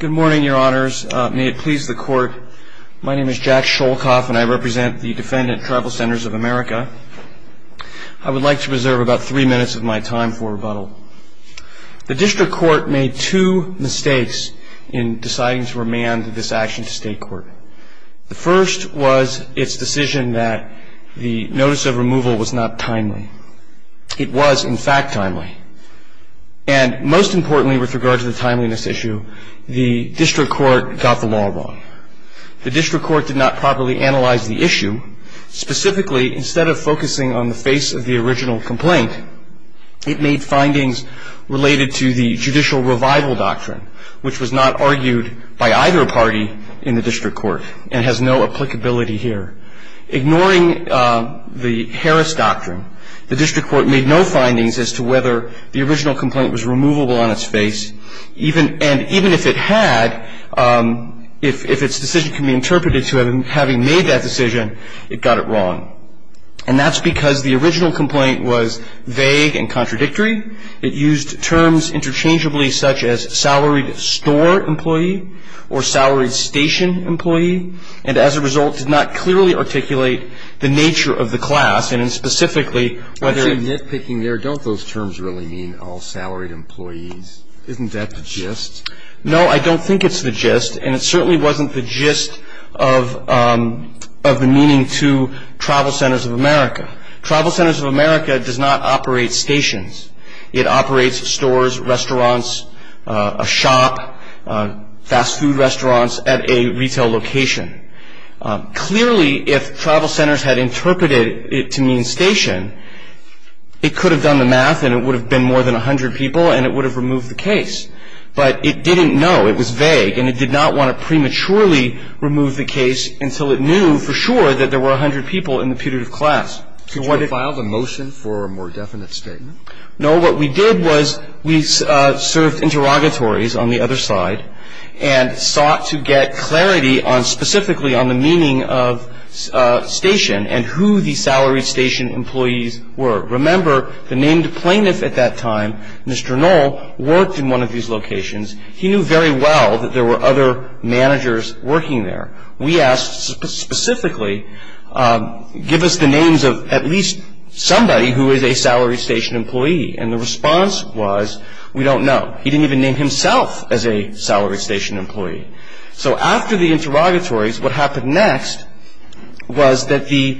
Good morning, your honors. May it please the court, my name is Jack Sholkoff and I represent the defendant TravelCenters of America. I would like to reserve about three minutes of my time for rebuttal. The district court made two mistakes in deciding to remand this action to state court. The first was its decision that the notice of removal was not timely. It was, in fact, timely. And most importantly with regard to the timeliness issue, the district court got the law wrong. The district court did not properly analyze the issue. Specifically, instead of focusing on the face of the original complaint, it made findings related to the judicial revival doctrine, which was not argued by either party in the district court and has no applicability here. Ignoring the Harris doctrine, the district court made no findings as to whether the original complaint was removable on its face. And even if it had, if its decision can be interpreted to having made that decision, it got it wrong. And that's because the original complaint was vague and contradictory. It used terms interchangeably such as salaried store employee or salaried station employee. And as a result, did not clearly articulate the nature of the class. And specifically, whether- I see nitpicking there. Don't those terms really mean all salaried employees? Isn't that the gist? No, I don't think it's the gist. And it certainly wasn't the gist of the meaning to Travel Centers of America. Travel Centers of America does not operate stations. It operates stores, restaurants, a shop, fast food restaurants at a retail location. Clearly, if Travel Centers had interpreted it to mean station, it could have done the math and it would have been more than 100 people and it would have removed the case. But it didn't know. It was vague. And it did not want to prematurely remove the case until it knew for sure that there were 100 people in the putative class. Could you file the motion for a more definite statement? No. What we did was we served interrogatories on the other side and sought to get clarity on specifically on the meaning of station and who the salaried station employees were. Remember, the named plaintiff at that time, Mr. Knoll, worked in one of these locations. He knew very well that there were other managers working there. We asked specifically, give us the names of at least somebody who is a salaried station employee. And the response was, we don't know. He didn't even name himself as a salaried station employee. So after the interrogatories, what happened next was that the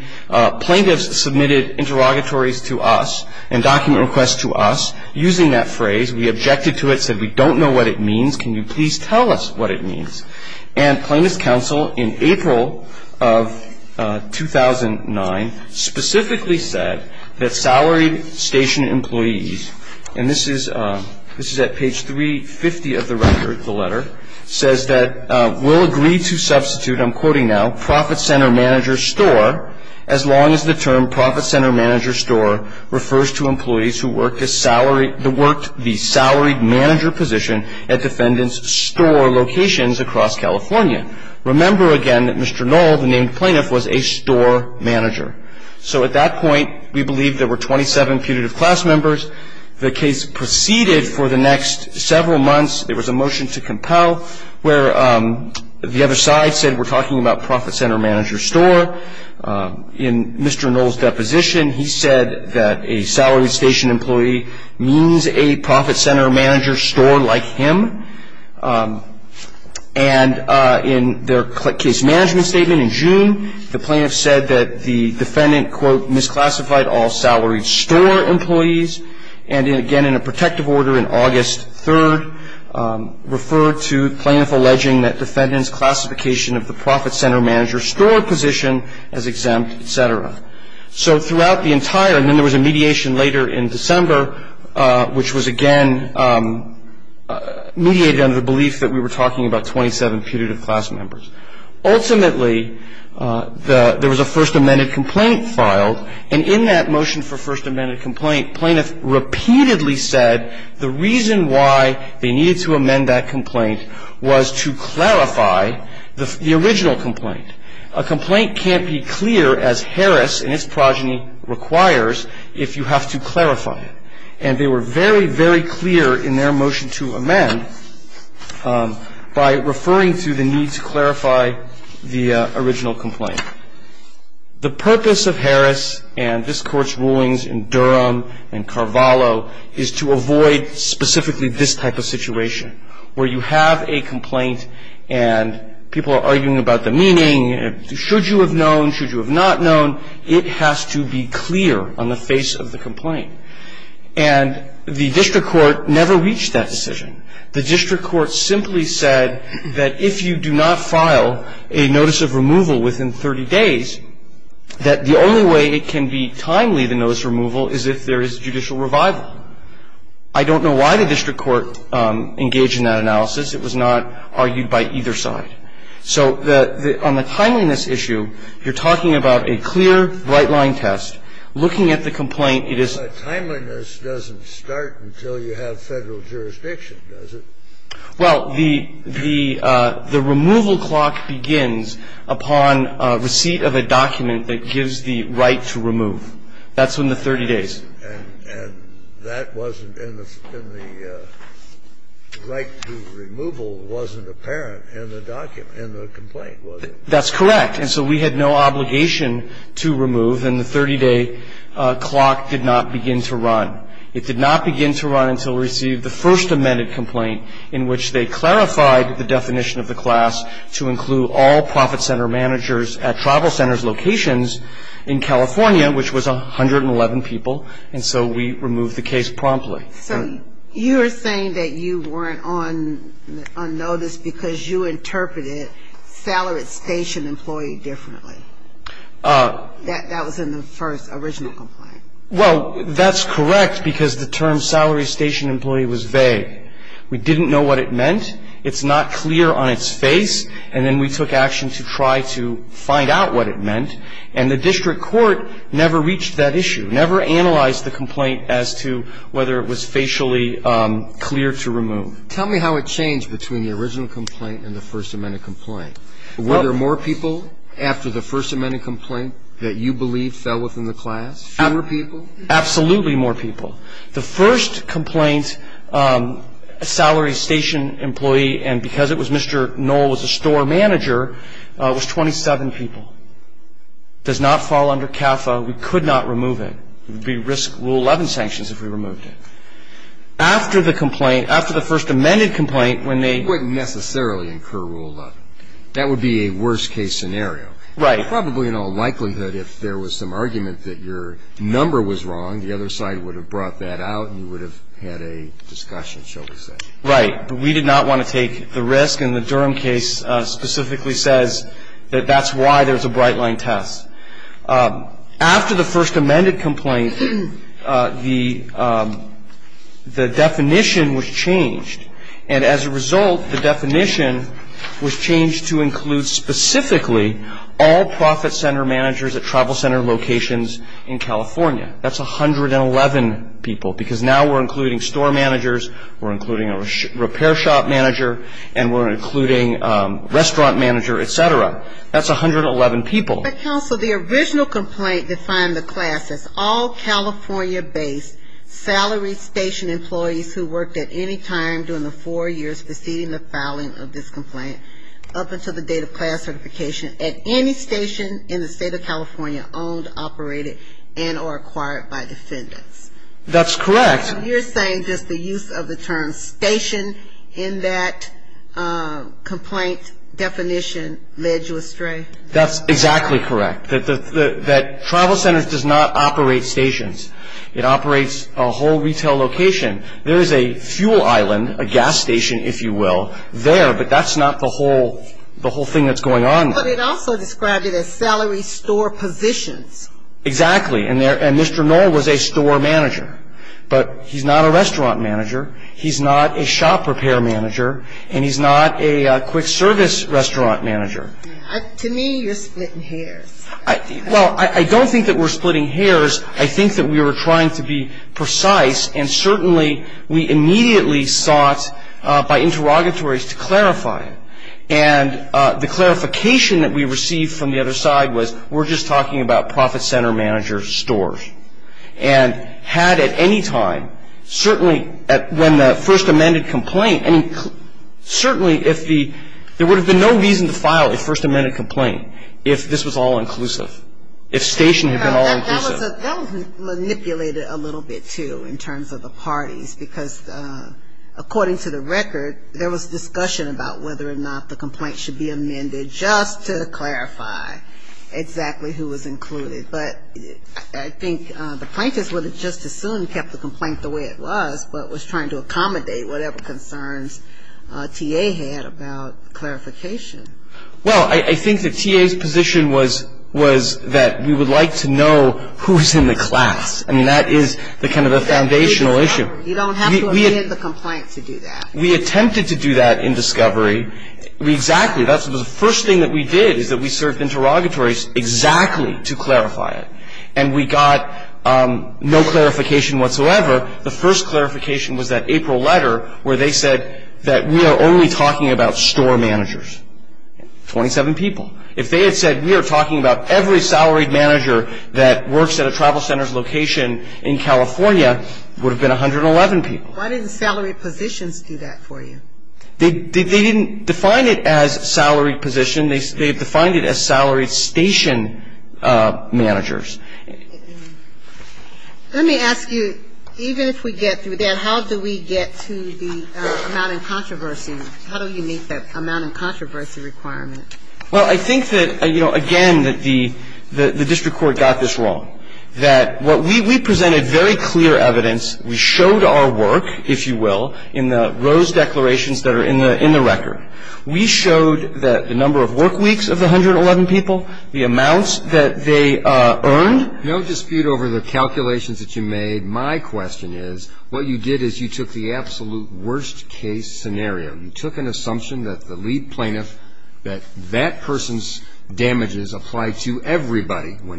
plaintiffs submitted interrogatories to us and document requests to us using that phrase. We objected to it, said we don't know what it means. Can you please tell us what it means? And plaintiff's counsel in April of 2009 specifically said that salaried station employees, and this is at page 350 of the record, the letter, says that we'll agree to substitute, I'm quoting now, profit center manager store as long as the term profit center manager store refers to employees who worked the salaried manager position at defendant's store locations across California. Remember, again, that Mr. Knoll, the named plaintiff, was a store manager. So at that point, we believe there were 27 putative class members. The case proceeded for the next several months. There was a motion to compel where the other side said we're talking about profit center manager store. In Mr. Knoll's deposition, he said that a salaried station employee means a profit center manager store like him. And in their case management statement in June, the plaintiff said that the defendant, quote, misclassified all salaried store employees. And again, in a protective order in August 3rd, referred to plaintiff alleging that defendant's classification of the profit center manager store position as exempt, et cetera. So throughout the entire, and then there was a mediation later in December, which was again mediated under the belief that we were talking about 27 putative class members. Ultimately, there was a first amended complaint filed, and in that motion for first amended complaint, plaintiff repeatedly said the reason why they needed to amend that complaint was to clarify the original complaint. A complaint can't be clear as Harris and its progeny requires if you have to clarify it. And they were very, very clear in their motion to amend by referring to the need to clarify the original complaint. The purpose of Harris and this court's rulings in Durham and Carvalho is to avoid specifically this type of situation, where you have a complaint and people are arguing about the meaning. Should you have known? Should you have not known? It has to be clear on the face of the complaint. And the district court never reached that decision. The district court simply said that if you do not file a notice of removal within 30 days, that the only way it can be timely, the notice of removal, is if there is judicial revival. I don't know why the district court engaged in that analysis. It was not argued by either side. So on the timeliness issue, you're talking about a clear, right-line test. Looking at the complaint, it is not. The timeliness doesn't start until you have Federal jurisdiction, does it? Well, the removal clock begins upon receipt of a document that gives the right to remove. That's in the 30 days. And that wasn't in the right to removal wasn't apparent in the document, in the complaint, was it? That's correct. And so we had no obligation to remove, and the 30-day clock did not begin to run. It did not begin to run until we received the first amended complaint, in which they clarified the definition of the class to include all profit center managers at tribal centers locations in California, which was 111 people. And so we removed the case promptly. So you are saying that you weren't on notice because you interpreted salary station employee differently. That was in the first original complaint. Well, that's correct because the term salary station employee was vague. We didn't know what it meant. It's not clear on its face. And then we took action to try to find out what it meant. And the district court never reached that issue, never analyzed the complaint as to whether it was facially clear to remove. Tell me how it changed between the original complaint and the first amended complaint. Were there more people after the first amended complaint that you believed fell within the class? Fewer people? Absolutely more people. The first complaint, salary station employee, and because it was Mr. Knoll was a store manager, was 27 people. Does not fall under CAFA. We could not remove it. It would be risk rule 11 sanctions if we removed it. After the complaint, after the first amended complaint, when they Wouldn't necessarily incur rule 11. That would be a worst case scenario. Right. Probably in all likelihood if there was some argument that your number was wrong, the other side would have brought that out and you would have had a discussion, shall we say. Right. But we did not want to take the risk. And the Durham case specifically says that that's why there's a bright line test. After the first amended complaint, the definition was changed. And as a result, the definition was changed to include specifically all profit center managers at travel center locations in California. That's 111 people because now we're including store managers, we're including a repair shop manager, and we're including restaurant manager, et cetera. That's 111 people. But, counsel, the original complaint defined the class as all California-based salary station employees who worked at any time during the four years preceding the filing of this complaint up until the date of class certification at any station in the state of California owned, operated, and or acquired by defendants. That's correct. You're saying just the use of the term station in that complaint definition led you astray? That's exactly correct, that travel centers does not operate stations. It operates a whole retail location. There is a fuel island, a gas station, if you will, there, but that's not the whole thing that's going on there. But it also described it as salary store positions. Exactly. And Mr. Knoll was a store manager. But he's not a restaurant manager, he's not a shop repair manager, and he's not a quick service restaurant manager. To me, you're splitting hairs. Well, I don't think that we're splitting hairs. I think that we were trying to be precise, and certainly we immediately sought by interrogatories to clarify it. And the clarification that we received from the other side was we're just talking about profit center managers' stores. And had at any time, certainly when the first amended complaint, and certainly if the, there would have been no reason to file a first amended complaint if this was all inclusive, if station had been all inclusive. That was manipulated a little bit, too, in terms of the parties, because according to the record, there was discussion about whether or not the complaint should be amended just to clarify exactly who was included. But I think the plaintiffs would have just as soon kept the complaint the way it was, but was trying to accommodate whatever concerns T.A. had about clarification. Well, I think that T.A.'s position was that we would like to know who was in the class. I mean, that is kind of the foundational issue. You don't have to amend the complaint to do that. We attempted to do that in discovery. Exactly. The first thing that we did is that we served interrogatories exactly to clarify it. And we got no clarification whatsoever. The first clarification was that April letter where they said that we are only talking about store managers, 27 people. If they had said we are talking about every salaried manager that works at a travel center's location in California, it would have been 111 people. Why didn't salaried positions do that for you? They didn't define it as salaried position. They defined it as salaried station managers. Let me ask you, even if we get through that, how do we get to the amount in controversy? How do we meet that amount in controversy requirement? Well, I think that, you know, again, that the district court got this wrong, that what we presented very clear evidence. We showed our work, if you will, in the Rose declarations that are in the record. We showed that the number of work weeks of the 111 people, the amounts that they earned. No dispute over the calculations that you made. My question is, what you did is you took the absolute worst-case scenario. You took an assumption that the lead plaintiff, that that person's damages applied to everybody, Well,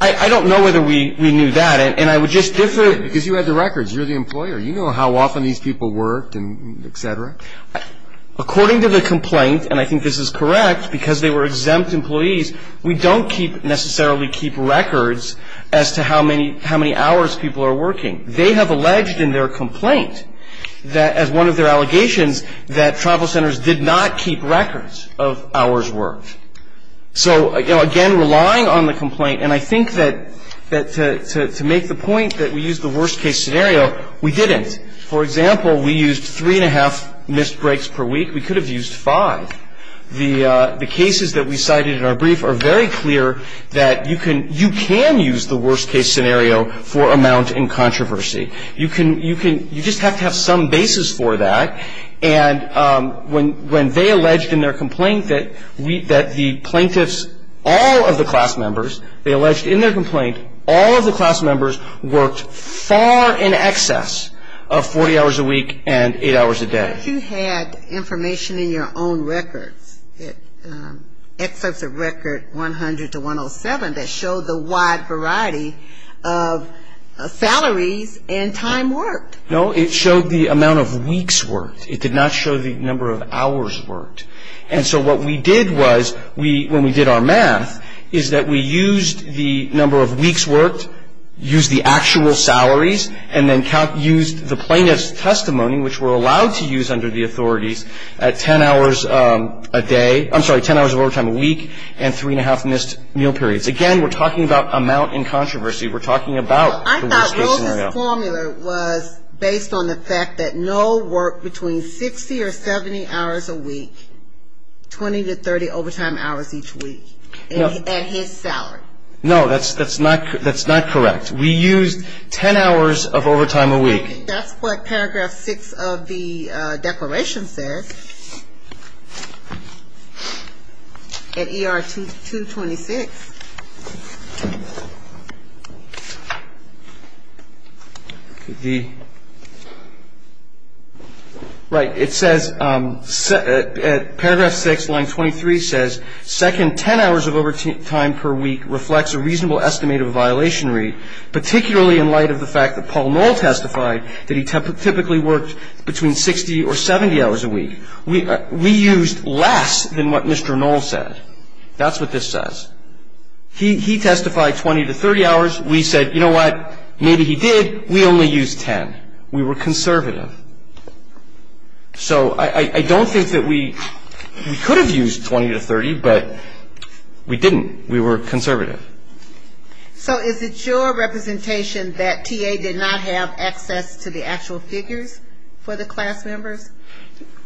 I don't know whether we knew that, and I would just differ. Because you had the records. You're the employer. You know how often these people worked and et cetera. According to the complaint, and I think this is correct, because they were exempt employees, we don't necessarily keep records as to how many hours people are working. They have alleged in their complaint that as one of their allegations that travel centers did not keep records of hours worked. So, again, relying on the complaint, and I think that to make the point that we used the worst-case scenario, we didn't. For example, we used three and a half missed breaks per week. We could have used five. The cases that we cited in our brief are very clear that you can use the worst-case scenario for amount in controversy. You just have to have some basis for that. And when they alleged in their complaint that the plaintiffs, all of the class members, they alleged in their complaint, all of the class members worked far in excess of 40 hours a week and eight hours a day. But you had information in your own records, excerpts of record 100 to 107, that showed the wide variety of salaries and time worked. No, it showed the amount of weeks worked. It did not show the number of hours worked. And so what we did was, when we did our math, is that we used the number of weeks worked, used the actual salaries, and then used the plaintiff's testimony, which we're allowed to use under the authorities, at 10 hours a day, I'm sorry, 10 hours of overtime a week and three and a half missed meal periods. Again, we're talking about amount in controversy. We're talking about the worst-case scenario. The formula was based on the fact that no work between 60 or 70 hours a week, 20 to 30 overtime hours each week, and his salary. No, that's not correct. We used 10 hours of overtime a week. That's what Paragraph 6 of the declaration says. At ER 226. Right. It says, Paragraph 6, Line 23 says, Second, 10 hours of overtime per week reflects a reasonable estimate of a violation rate, particularly in light of the fact that Paul Knoll testified that he typically worked between 60 or 70 hours a week. We used less than what Mr. Knoll said. That's what this says. He testified 20 to 30 hours. We said, you know what, maybe he did. We only used 10. We were conservative. So I don't think that we could have used 20 to 30, but we didn't. We were conservative. So is it your representation that TA did not have access to the actual figures for the class members?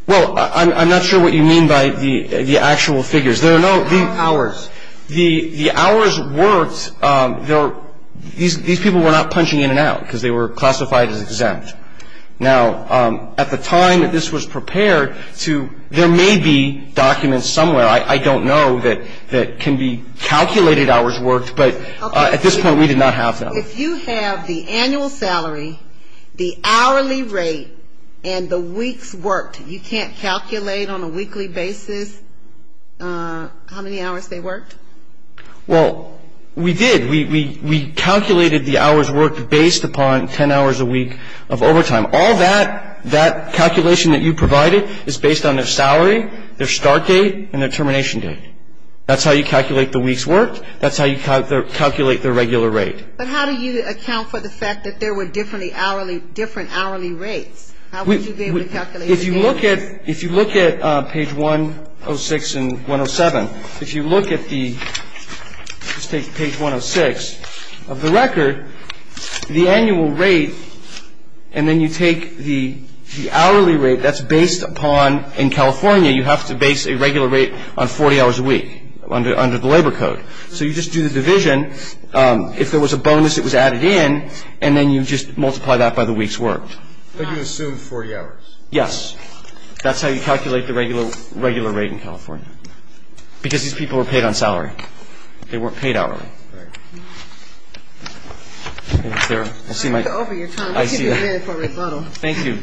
Well, I'm not sure what you mean by the actual figures. There are no hours. The hours worked. These people were not punching in and out because they were classified as exempt. Now, at the time that this was prepared, there may be documents somewhere, I don't know, that can be calculated hours worked, but at this point we did not have them. If you have the annual salary, the hourly rate, and the weeks worked, you can't calculate on a weekly basis how many hours they worked? Well, we did. We calculated the hours worked based upon 10 hours a week of overtime. All that calculation that you provided is based on their salary, their start date, and their termination date. That's how you calculate the weeks worked. That's how you calculate their regular rate. But how do you account for the fact that there were different hourly rates? How would you be able to calculate the daily rate? If you look at page 106 and 107, if you look at the, let's take page 106 of the record, the annual rate, and then you take the hourly rate that's based upon, in California, you have to base a regular rate on 40 hours a week under the labor code. So you just do the division. If there was a bonus, it was added in, and then you just multiply that by the weeks worked. But you assume 40 hours. Yes. That's how you calculate the regular rate in California because these people were paid on salary. They weren't paid hourly. All right. Thank you, Sarah. I'll see you, Mike. Over your time. Thank you.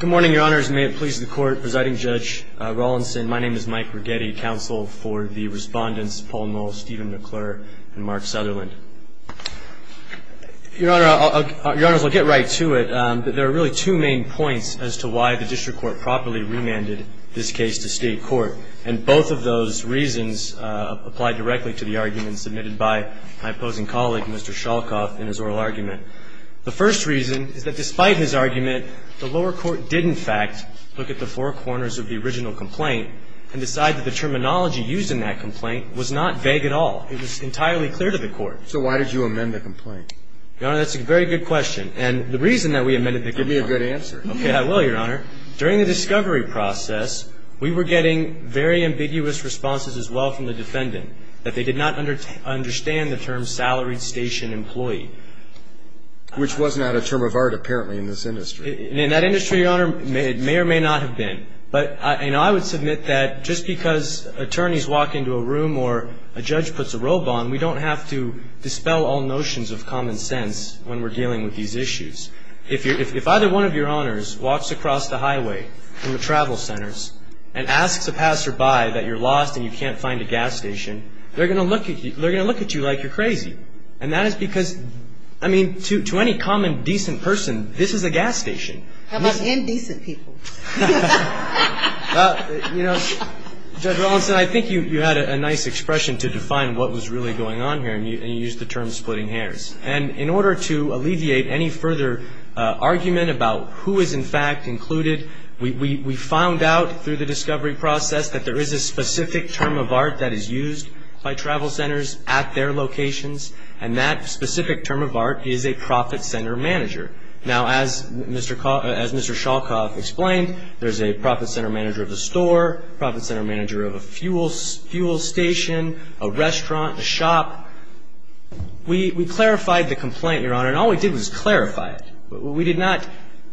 Good morning, Your Honors, and may it please the Court. Presiding Judge Rawlinson, my name is Mike Rigetti, and I'm the Deputy Counsel for the Respondents Paul Knoll, Stephen McClure, and Mark Sutherland. Your Honors, I'll get right to it. There are really two main points as to why the district court properly remanded this case to state court, and both of those reasons apply directly to the argument submitted by my opposing colleague, Mr. Shalkoff, in his oral argument. The first reason is that despite his argument, the lower court did, in fact, look at the four corners of the original complaint and decide that the terminology used in that complaint was not vague at all. It was entirely clear to the court. So why did you amend the complaint? Your Honor, that's a very good question, and the reason that we amended the complaint. Give me a good answer. Okay, I will, Your Honor. During the discovery process, we were getting very ambiguous responses as well from the defendant that they did not understand the term salaried station employee. Which was not a term of art, apparently, in this industry. In that industry, Your Honor, it may or may not have been. But I would submit that just because attorneys walk into a room or a judge puts a robe on, we don't have to dispel all notions of common sense when we're dealing with these issues. If either one of your owners walks across the highway in the travel centers and asks a passerby that you're lost and you can't find a gas station, they're going to look at you like you're crazy. And that is because, I mean, to any common decent person, this is a gas station. How about indecent people? You know, Judge Rawlinson, I think you had a nice expression to define what was really going on here, and you used the term splitting hairs. And in order to alleviate any further argument about who is, in fact, included, we found out through the discovery process that there is a specific term of art that is used by travel centers at their locations, and that specific term of art is a profit center manager. Now, as Mr. Shalkoff explained, there's a profit center manager of the store, profit center manager of a fuel station, a restaurant, a shop. We clarified the complaint, Your Honor, and all we did was clarify it. We did not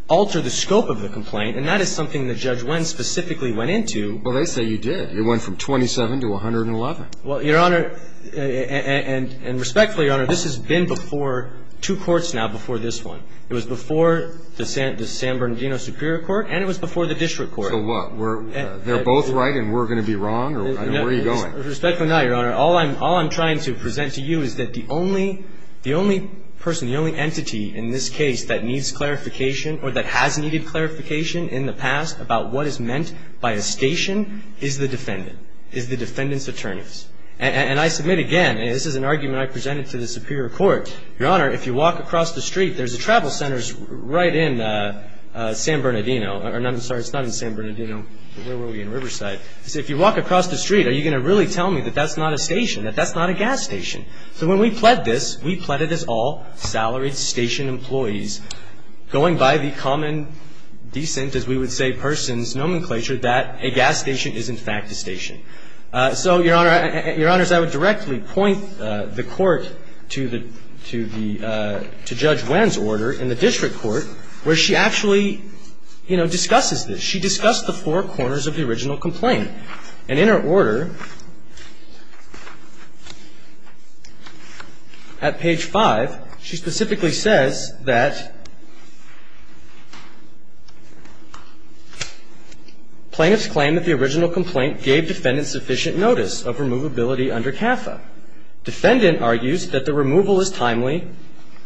alter the scope of the complaint, and that is something the judge specifically went into. Well, they say you did. It went from 27 to 111. Well, Your Honor, and respectfully, Your Honor, this has been before two courts now before this one. It was before the San Bernardino Superior Court, and it was before the district court. So what? They're both right and we're going to be wrong? Where are you going? Respectfully not, Your Honor. All I'm trying to present to you is that the only person, the only entity in this case that needs clarification or that has needed clarification in the past about what is meant by a station is the defendant, is the defendant's attorneys. And I submit again, and this is an argument I presented to the Superior Court, Your Honor, if you walk across the street, there's a travel center right in San Bernardino. I'm sorry. It's not in San Bernardino. Where were we? In Riverside. So if you walk across the street, are you going to really tell me that that's not a station, that that's not a gas station? So when we pled this, we pled it as all salaried station employees going by the common descent, as we would say, person's nomenclature, that a gas station is, in fact, a station. So, Your Honor, Your Honors, I would directly point the Court to the, to the, to Judge Wen's order in the district court where she actually, you know, discusses this. She discussed the four corners of the original complaint. And in her order at page 5, she specifically says that plaintiffs claim that the original complaint gave defendants sufficient notice of removability under CAFA. Defendant argues that the removal is timely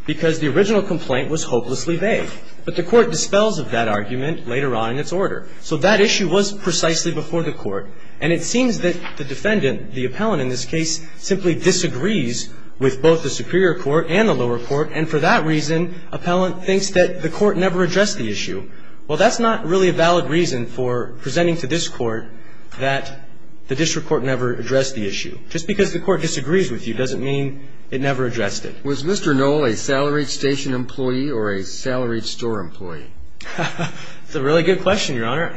because the original complaint was hopelessly vague. But the Court dispels of that argument later on in its order. So that issue was precisely before the Court. And it seems that the defendant, the appellant in this case, simply disagrees with both the Superior Court and the lower court. And for that reason, appellant thinks that the Court never addressed the issue. Well, that's not really a valid reason for presenting to this Court that the district court never addressed the issue. Just because the Court disagrees with you doesn't mean it never addressed it. Was Mr. Knoll a salaried station employee or a salaried store employee? That's a really good question, Your Honor.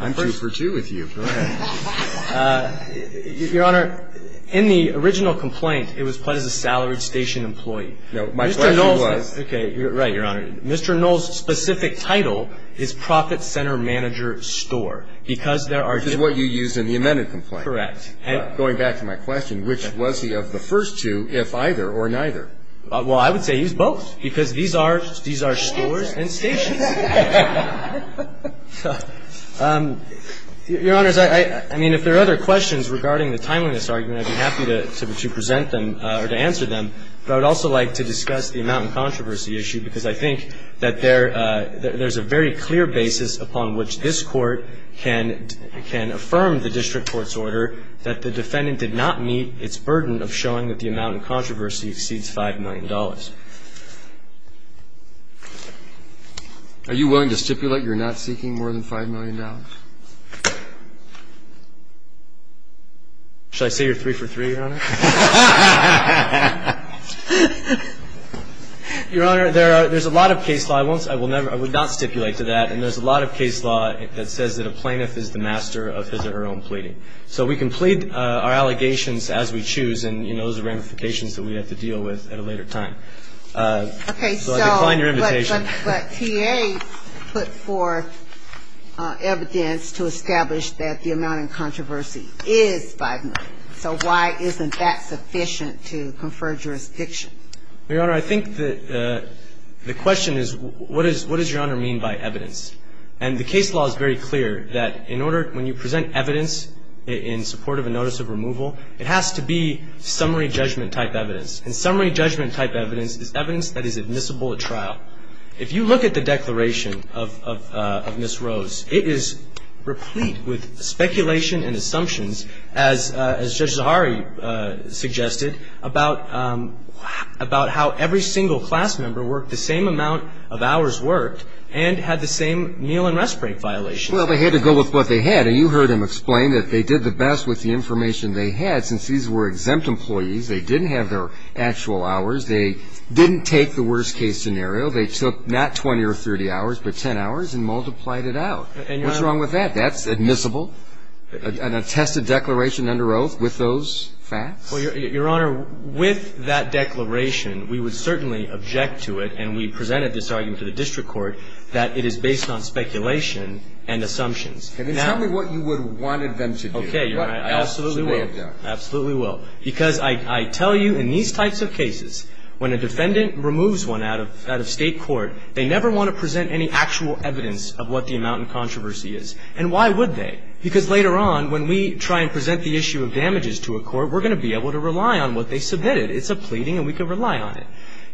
I'm two for two with you. Go ahead. Your Honor, in the original complaint, it was pled as a salaried station employee. No, my question was Mr. Knoll's specific title is profit center manager store because there are This is what you used in the amended complaint. Correct. Going back to my question, which was he of the first two, if either or neither? Well, I would say he's both because these are stores and stations. Your Honors, I mean, if there are other questions regarding the timeliness argument, I'd be happy to present them or to answer them. But I would also like to discuss the amount in controversy issue because I think that there's a very clear basis upon which this Court can affirm the district court's order that the defendant did not meet its burden of showing that the amount in controversy exceeds $5 million. Are you willing to stipulate you're not seeking more than $5 million? Your Honor, there's a lot of case law. I would not stipulate to that. And there's a lot of case law that says that a plaintiff is the master of his or her own pleading. So we can plead our allegations as we choose. And, you know, those are ramifications that we have to deal with at a later time. Okay. So I decline your invitation. But TA put forth evidence to establish that the amount in controversy is $5 million. So why isn't it $5 million? Why isn't that sufficient to confer jurisdiction? Your Honor, I think the question is what does Your Honor mean by evidence? And the case law is very clear that in order to present evidence in support of a notice of removal, it has to be summary judgment type evidence. And summary judgment type evidence is evidence that is admissible at trial. If you look at the declaration of Ms. Rose, it is replete with speculation and assumptions, as Judge Zahari suggested, about how every single class member worked the same amount of hours worked and had the same meal and rest break violations. Well, they had to go with what they had. And you heard them explain that they did the best with the information they had. Since these were exempt employees, they didn't have their actual hours. They didn't take the worst case scenario. They took not 20 or 30 hours, but 10 hours and multiplied it out. What's wrong with that? That's admissible? An attested declaration under oath with those facts? Well, Your Honor, with that declaration, we would certainly object to it, and we presented this argument to the district court that it is based on speculation and assumptions. Then tell me what you would have wanted them to do. Okay, Your Honor, I absolutely will. What else should they have done? Absolutely will. Because I tell you, in these types of cases, when a defendant removes one out of state court, they never want to present any actual evidence of what the amount in controversy is. And why would they? Because later on, when we try and present the issue of damages to a court, we're going to be able to rely on what they submitted. It's a pleading, and we can rely on it.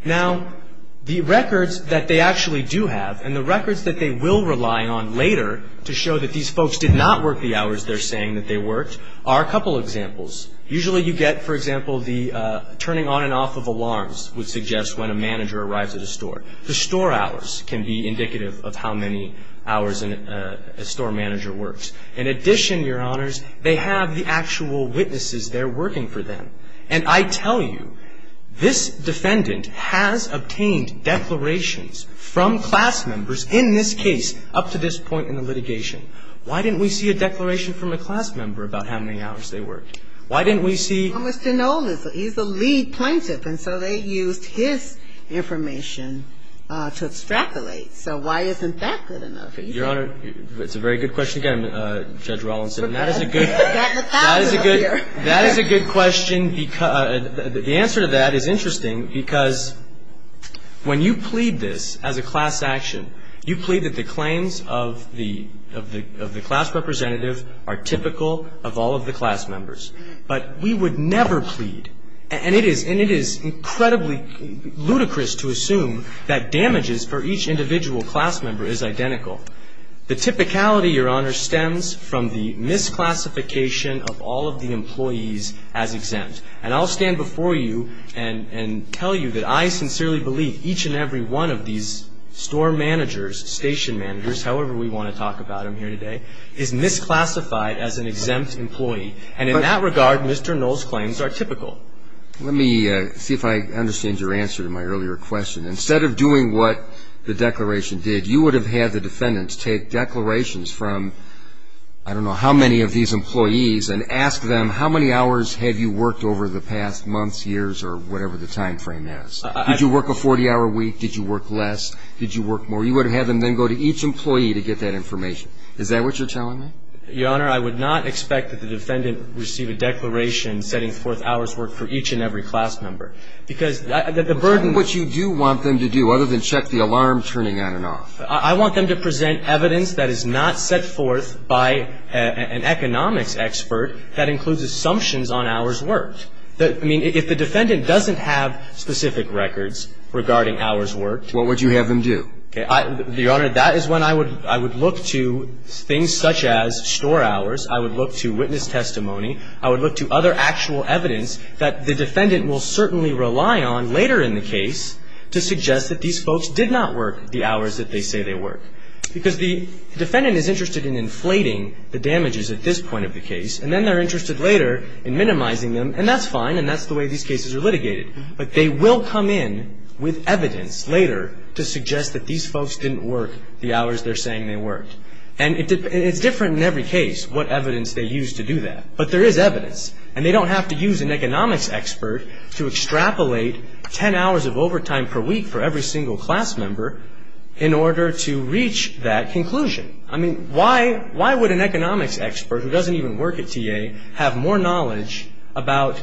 Now, the records that they actually do have and the records that they will rely on later to show that these folks did not work the hours they're saying that they worked are a couple examples. Usually you get, for example, the turning on and off of alarms would suggest when a manager arrives at a store. The store hours can be indicative of how many hours a store manager works. In addition, Your Honors, they have the actual witnesses there working for them. And I tell you, this defendant has obtained declarations from class members in this case up to this point in the litigation. Why didn't we see a declaration from a class member about how many hours they worked? Why didn't we see? Well, Mr. Noland, he's the lead plaintiff, and so they used his information to extrapolate. So why isn't that good enough? Your Honor, it's a very good question again, Judge Rawlinson. And that is a good question. The answer to that is interesting because when you plead this as a class action, you plead that the claims of the class representative are typical of all of the class members. But we would never plead, and it is incredibly ludicrous to assume that damages for each individual class member is identical. The typicality, Your Honor, stems from the misclassification of all of the employees as exempt. And I'll stand before you and tell you that I sincerely believe each and every one of these store managers, station managers, however we want to talk about them here today, is misclassified as an exempt employee. And in that regard, Mr. Noland's claims are typical. Let me see if I understand your answer to my earlier question. Instead of doing what the declaration did, you would have had the defendants take declarations from I don't know how many of these employees and ask them how many hours have you worked over the past months, years, or whatever the timeframe is. Did you work a 40-hour week? Did you work less? Did you work more? You would have had them then go to each employee to get that information. Is that what you're telling me? Your Honor, I would not expect that the defendant receive a declaration setting forth hours worked for each and every class member. Because the burden of what you do want them to do other than check the alarm turning on and off. I want them to present evidence that is not set forth by an economics expert that includes assumptions on hours worked. I mean, if the defendant doesn't have specific records regarding hours worked. What would you have them do? Your Honor, that is when I would look to things such as store hours. I would look to witness testimony. I would look to other actual evidence that the defendant will certainly rely on later in the case to suggest that these folks did not work the hours that they say they worked. Because the defendant is interested in inflating the damages at this point of the case. And then they're interested later in minimizing them. And that's fine. And that's the way these cases are litigated. But they will come in with evidence later to suggest that these folks didn't work the hours they're saying they worked. And it's different in every case what evidence they use to do that. But there is evidence. And they don't have to use an economics expert to extrapolate ten hours of overtime per week for every single class member in order to reach that conclusion. I mean, why would an economics expert who doesn't even work at TA have more knowledge about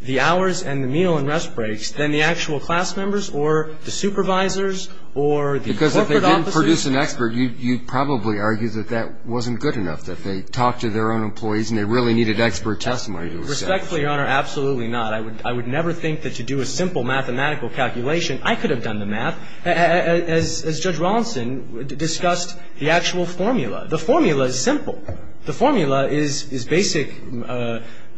the hours and the meal and rest breaks than the actual class members or the supervisors or the corporate officers? Because if they didn't produce an expert, you'd probably argue that that wasn't good enough, that they talked to their own employees and they really needed expert testimony to assess. Respectfully, Your Honor, absolutely not. I would never think that to do a simple mathematical calculation, I could have done the math, as Judge Rawlinson discussed the actual formula. The formula is simple. The formula is basic,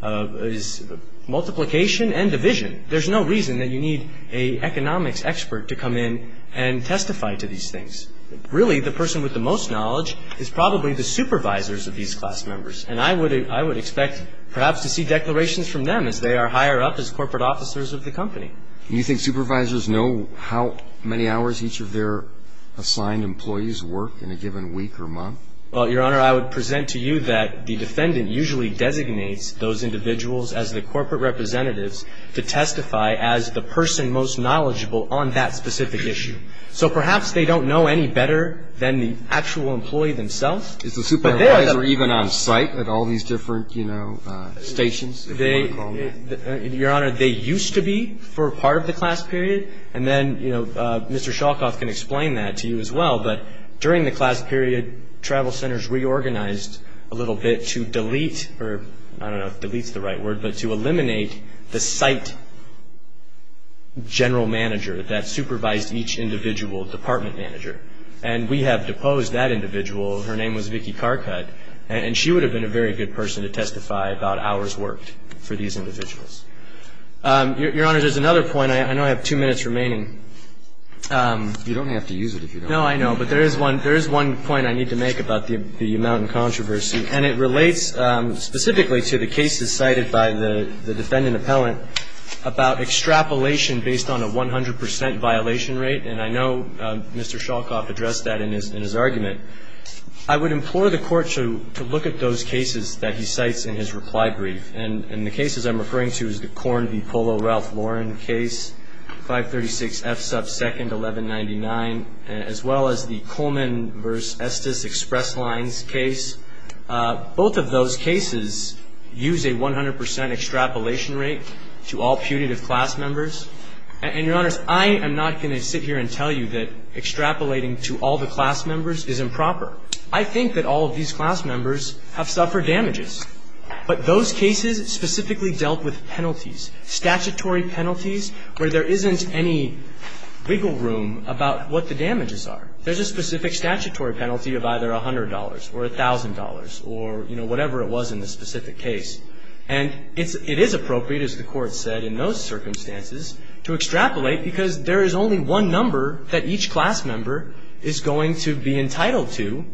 is multiplication and division. There's no reason that you need an economics expert to come in and testify to these things. Really, the person with the most knowledge is probably the supervisors of these class members. And I would expect perhaps to see declarations from them as they are higher up as corporate officers of the company. Do you think supervisors know how many hours each of their assigned employees work in a given week or month? Well, Your Honor, I would present to you that the defendant usually designates those individuals as the corporate representatives to testify as the person most knowledgeable on that specific issue. So perhaps they don't know any better than the actual employee themselves. Is the supervisor even on site at all these different, you know, stations, if you will call them? Your Honor, they used to be for part of the class period. And then, you know, Mr. Shalkoff can explain that to you as well. But during the class period, travel centers reorganized a little bit to delete, or I don't know if delete is the right word, but to eliminate the site general manager that supervised each individual department manager. And we have deposed that individual. Her name was Vicky Karkut. And she would have been a very good person to testify about hours worked for these individuals. Your Honor, there's another point. I know I have two minutes remaining. You don't have to use it if you don't want to. No, I know. But there is one point I need to make about the U Mountain controversy. And it relates specifically to the cases cited by the defendant appellant about extrapolation based on a 100 percent violation rate. And I know Mr. Shalkoff addressed that in his argument. I would implore the Court to look at those cases that he cites in his reply brief. And the cases I'm referring to is the Korn v. Polo Ralph Lauren case, 536 F sub 2nd, 1199, as well as the Coleman v. Estes Express Lines case. Both of those cases use a 100 percent extrapolation rate to all putative class members. And, Your Honors, I am not going to sit here and tell you that extrapolating to all the class members is improper. I think that all of these class members have suffered damages. But those cases specifically dealt with penalties, statutory penalties, where there isn't any wiggle room about what the damages are. There's a specific statutory penalty of either $100 or $1,000 or, you know, whatever it was in the specific case. And it is appropriate, as the Court said in those circumstances, to extrapolate because there is only one number that each class member is going to be entitled to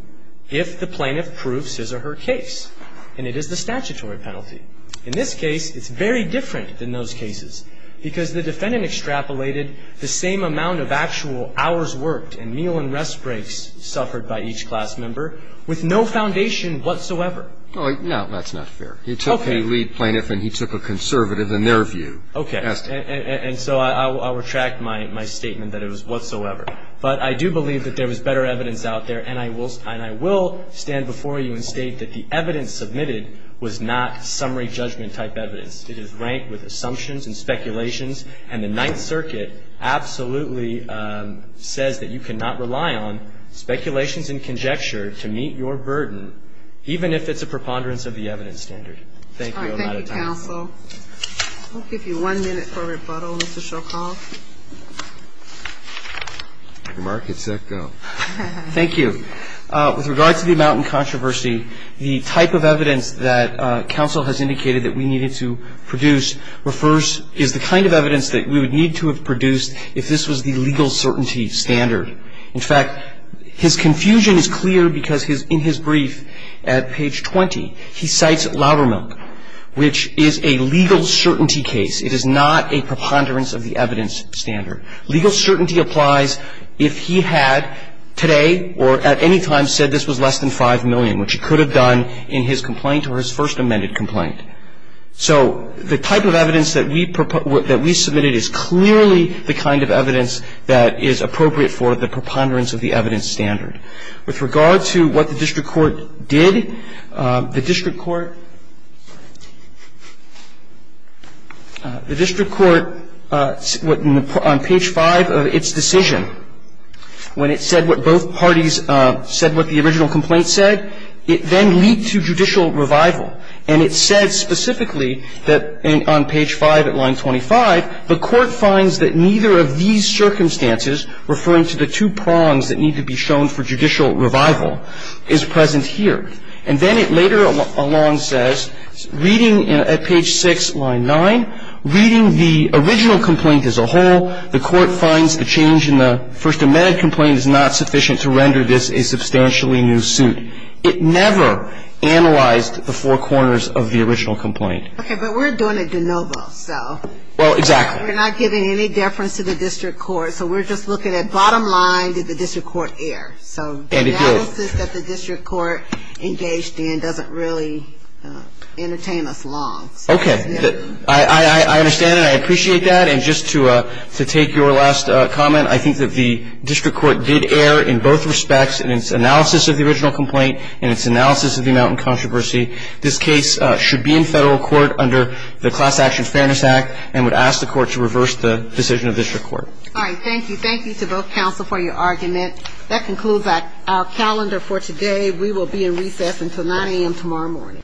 if the plaintiff proves his or her case. And it is the statutory penalty. In this case, it's very different than those cases because the defendant extrapolated the same amount of actual hours worked and meal and rest breaks suffered by each class member with no foundation whatsoever. No, that's not fair. He took a lead plaintiff and he took a conservative in their view. Okay. And so I'll retract my statement that it was whatsoever. But I do believe that there was better evidence out there, and I will stand before you and state that the evidence submitted was not summary judgment type evidence. It is ranked with assumptions and speculations, and the Ninth Circuit absolutely says that you cannot rely on speculations and conjecture to meet your burden, even if it's a preponderance of the evidence standard. Thank you. All right. Thank you, counsel. I'll give you one minute for rebuttal, Mr. Shokoff. Your mark is set. Go. Thank you. With regard to the amount in controversy, the type of evidence that counsel has indicated that we needed to produce refers to the kind of evidence that we would need to have produced if this was the legal certainty standard. In fact, his confusion is clear because in his brief at page 20, he cites Loudermilk, which is a legal certainty case. It is not a preponderance of the evidence standard. Legal certainty applies if he had today or at any time said this was less than 5 million, which he could have done in his complaint or his first amended complaint. So the type of evidence that we submitted is clearly the kind of evidence that is appropriate for the preponderance of the evidence standard. With regard to what the district court did, the district court, the district court on page 5 of its decision, when it said what both parties said what the original complaint said, it then leaked to judicial revival, and it said specifically that on page 5 at line 25, the court finds that neither of these circumstances referring to the two prongs that need to be shown for judicial revival is present here. And then it later along says, reading at page 6, line 9, reading the original complaint as a whole, the court finds the change in the first amended complaint is not sufficient to render this a substantially new suit. It never analyzed the four corners of the original complaint. Okay, but we're doing a de novo, so. Well, exactly. We're not giving any deference to the district court. So we're just looking at bottom line. Did the district court err? So the analysis that the district court engaged in doesn't really entertain us long. Okay. I understand that. I appreciate that. And just to take your last comment, I think that the district court did err in both respects in its analysis of the original complaint and its analysis of the amount in controversy. This case should be in federal court under the Class Action Fairness Act and would ask the court to reverse the decision of district court. All right. Thank you. Thank you to both counsel for your argument. That concludes our calendar for today. We will be in recess until 9 a.m. tomorrow morning.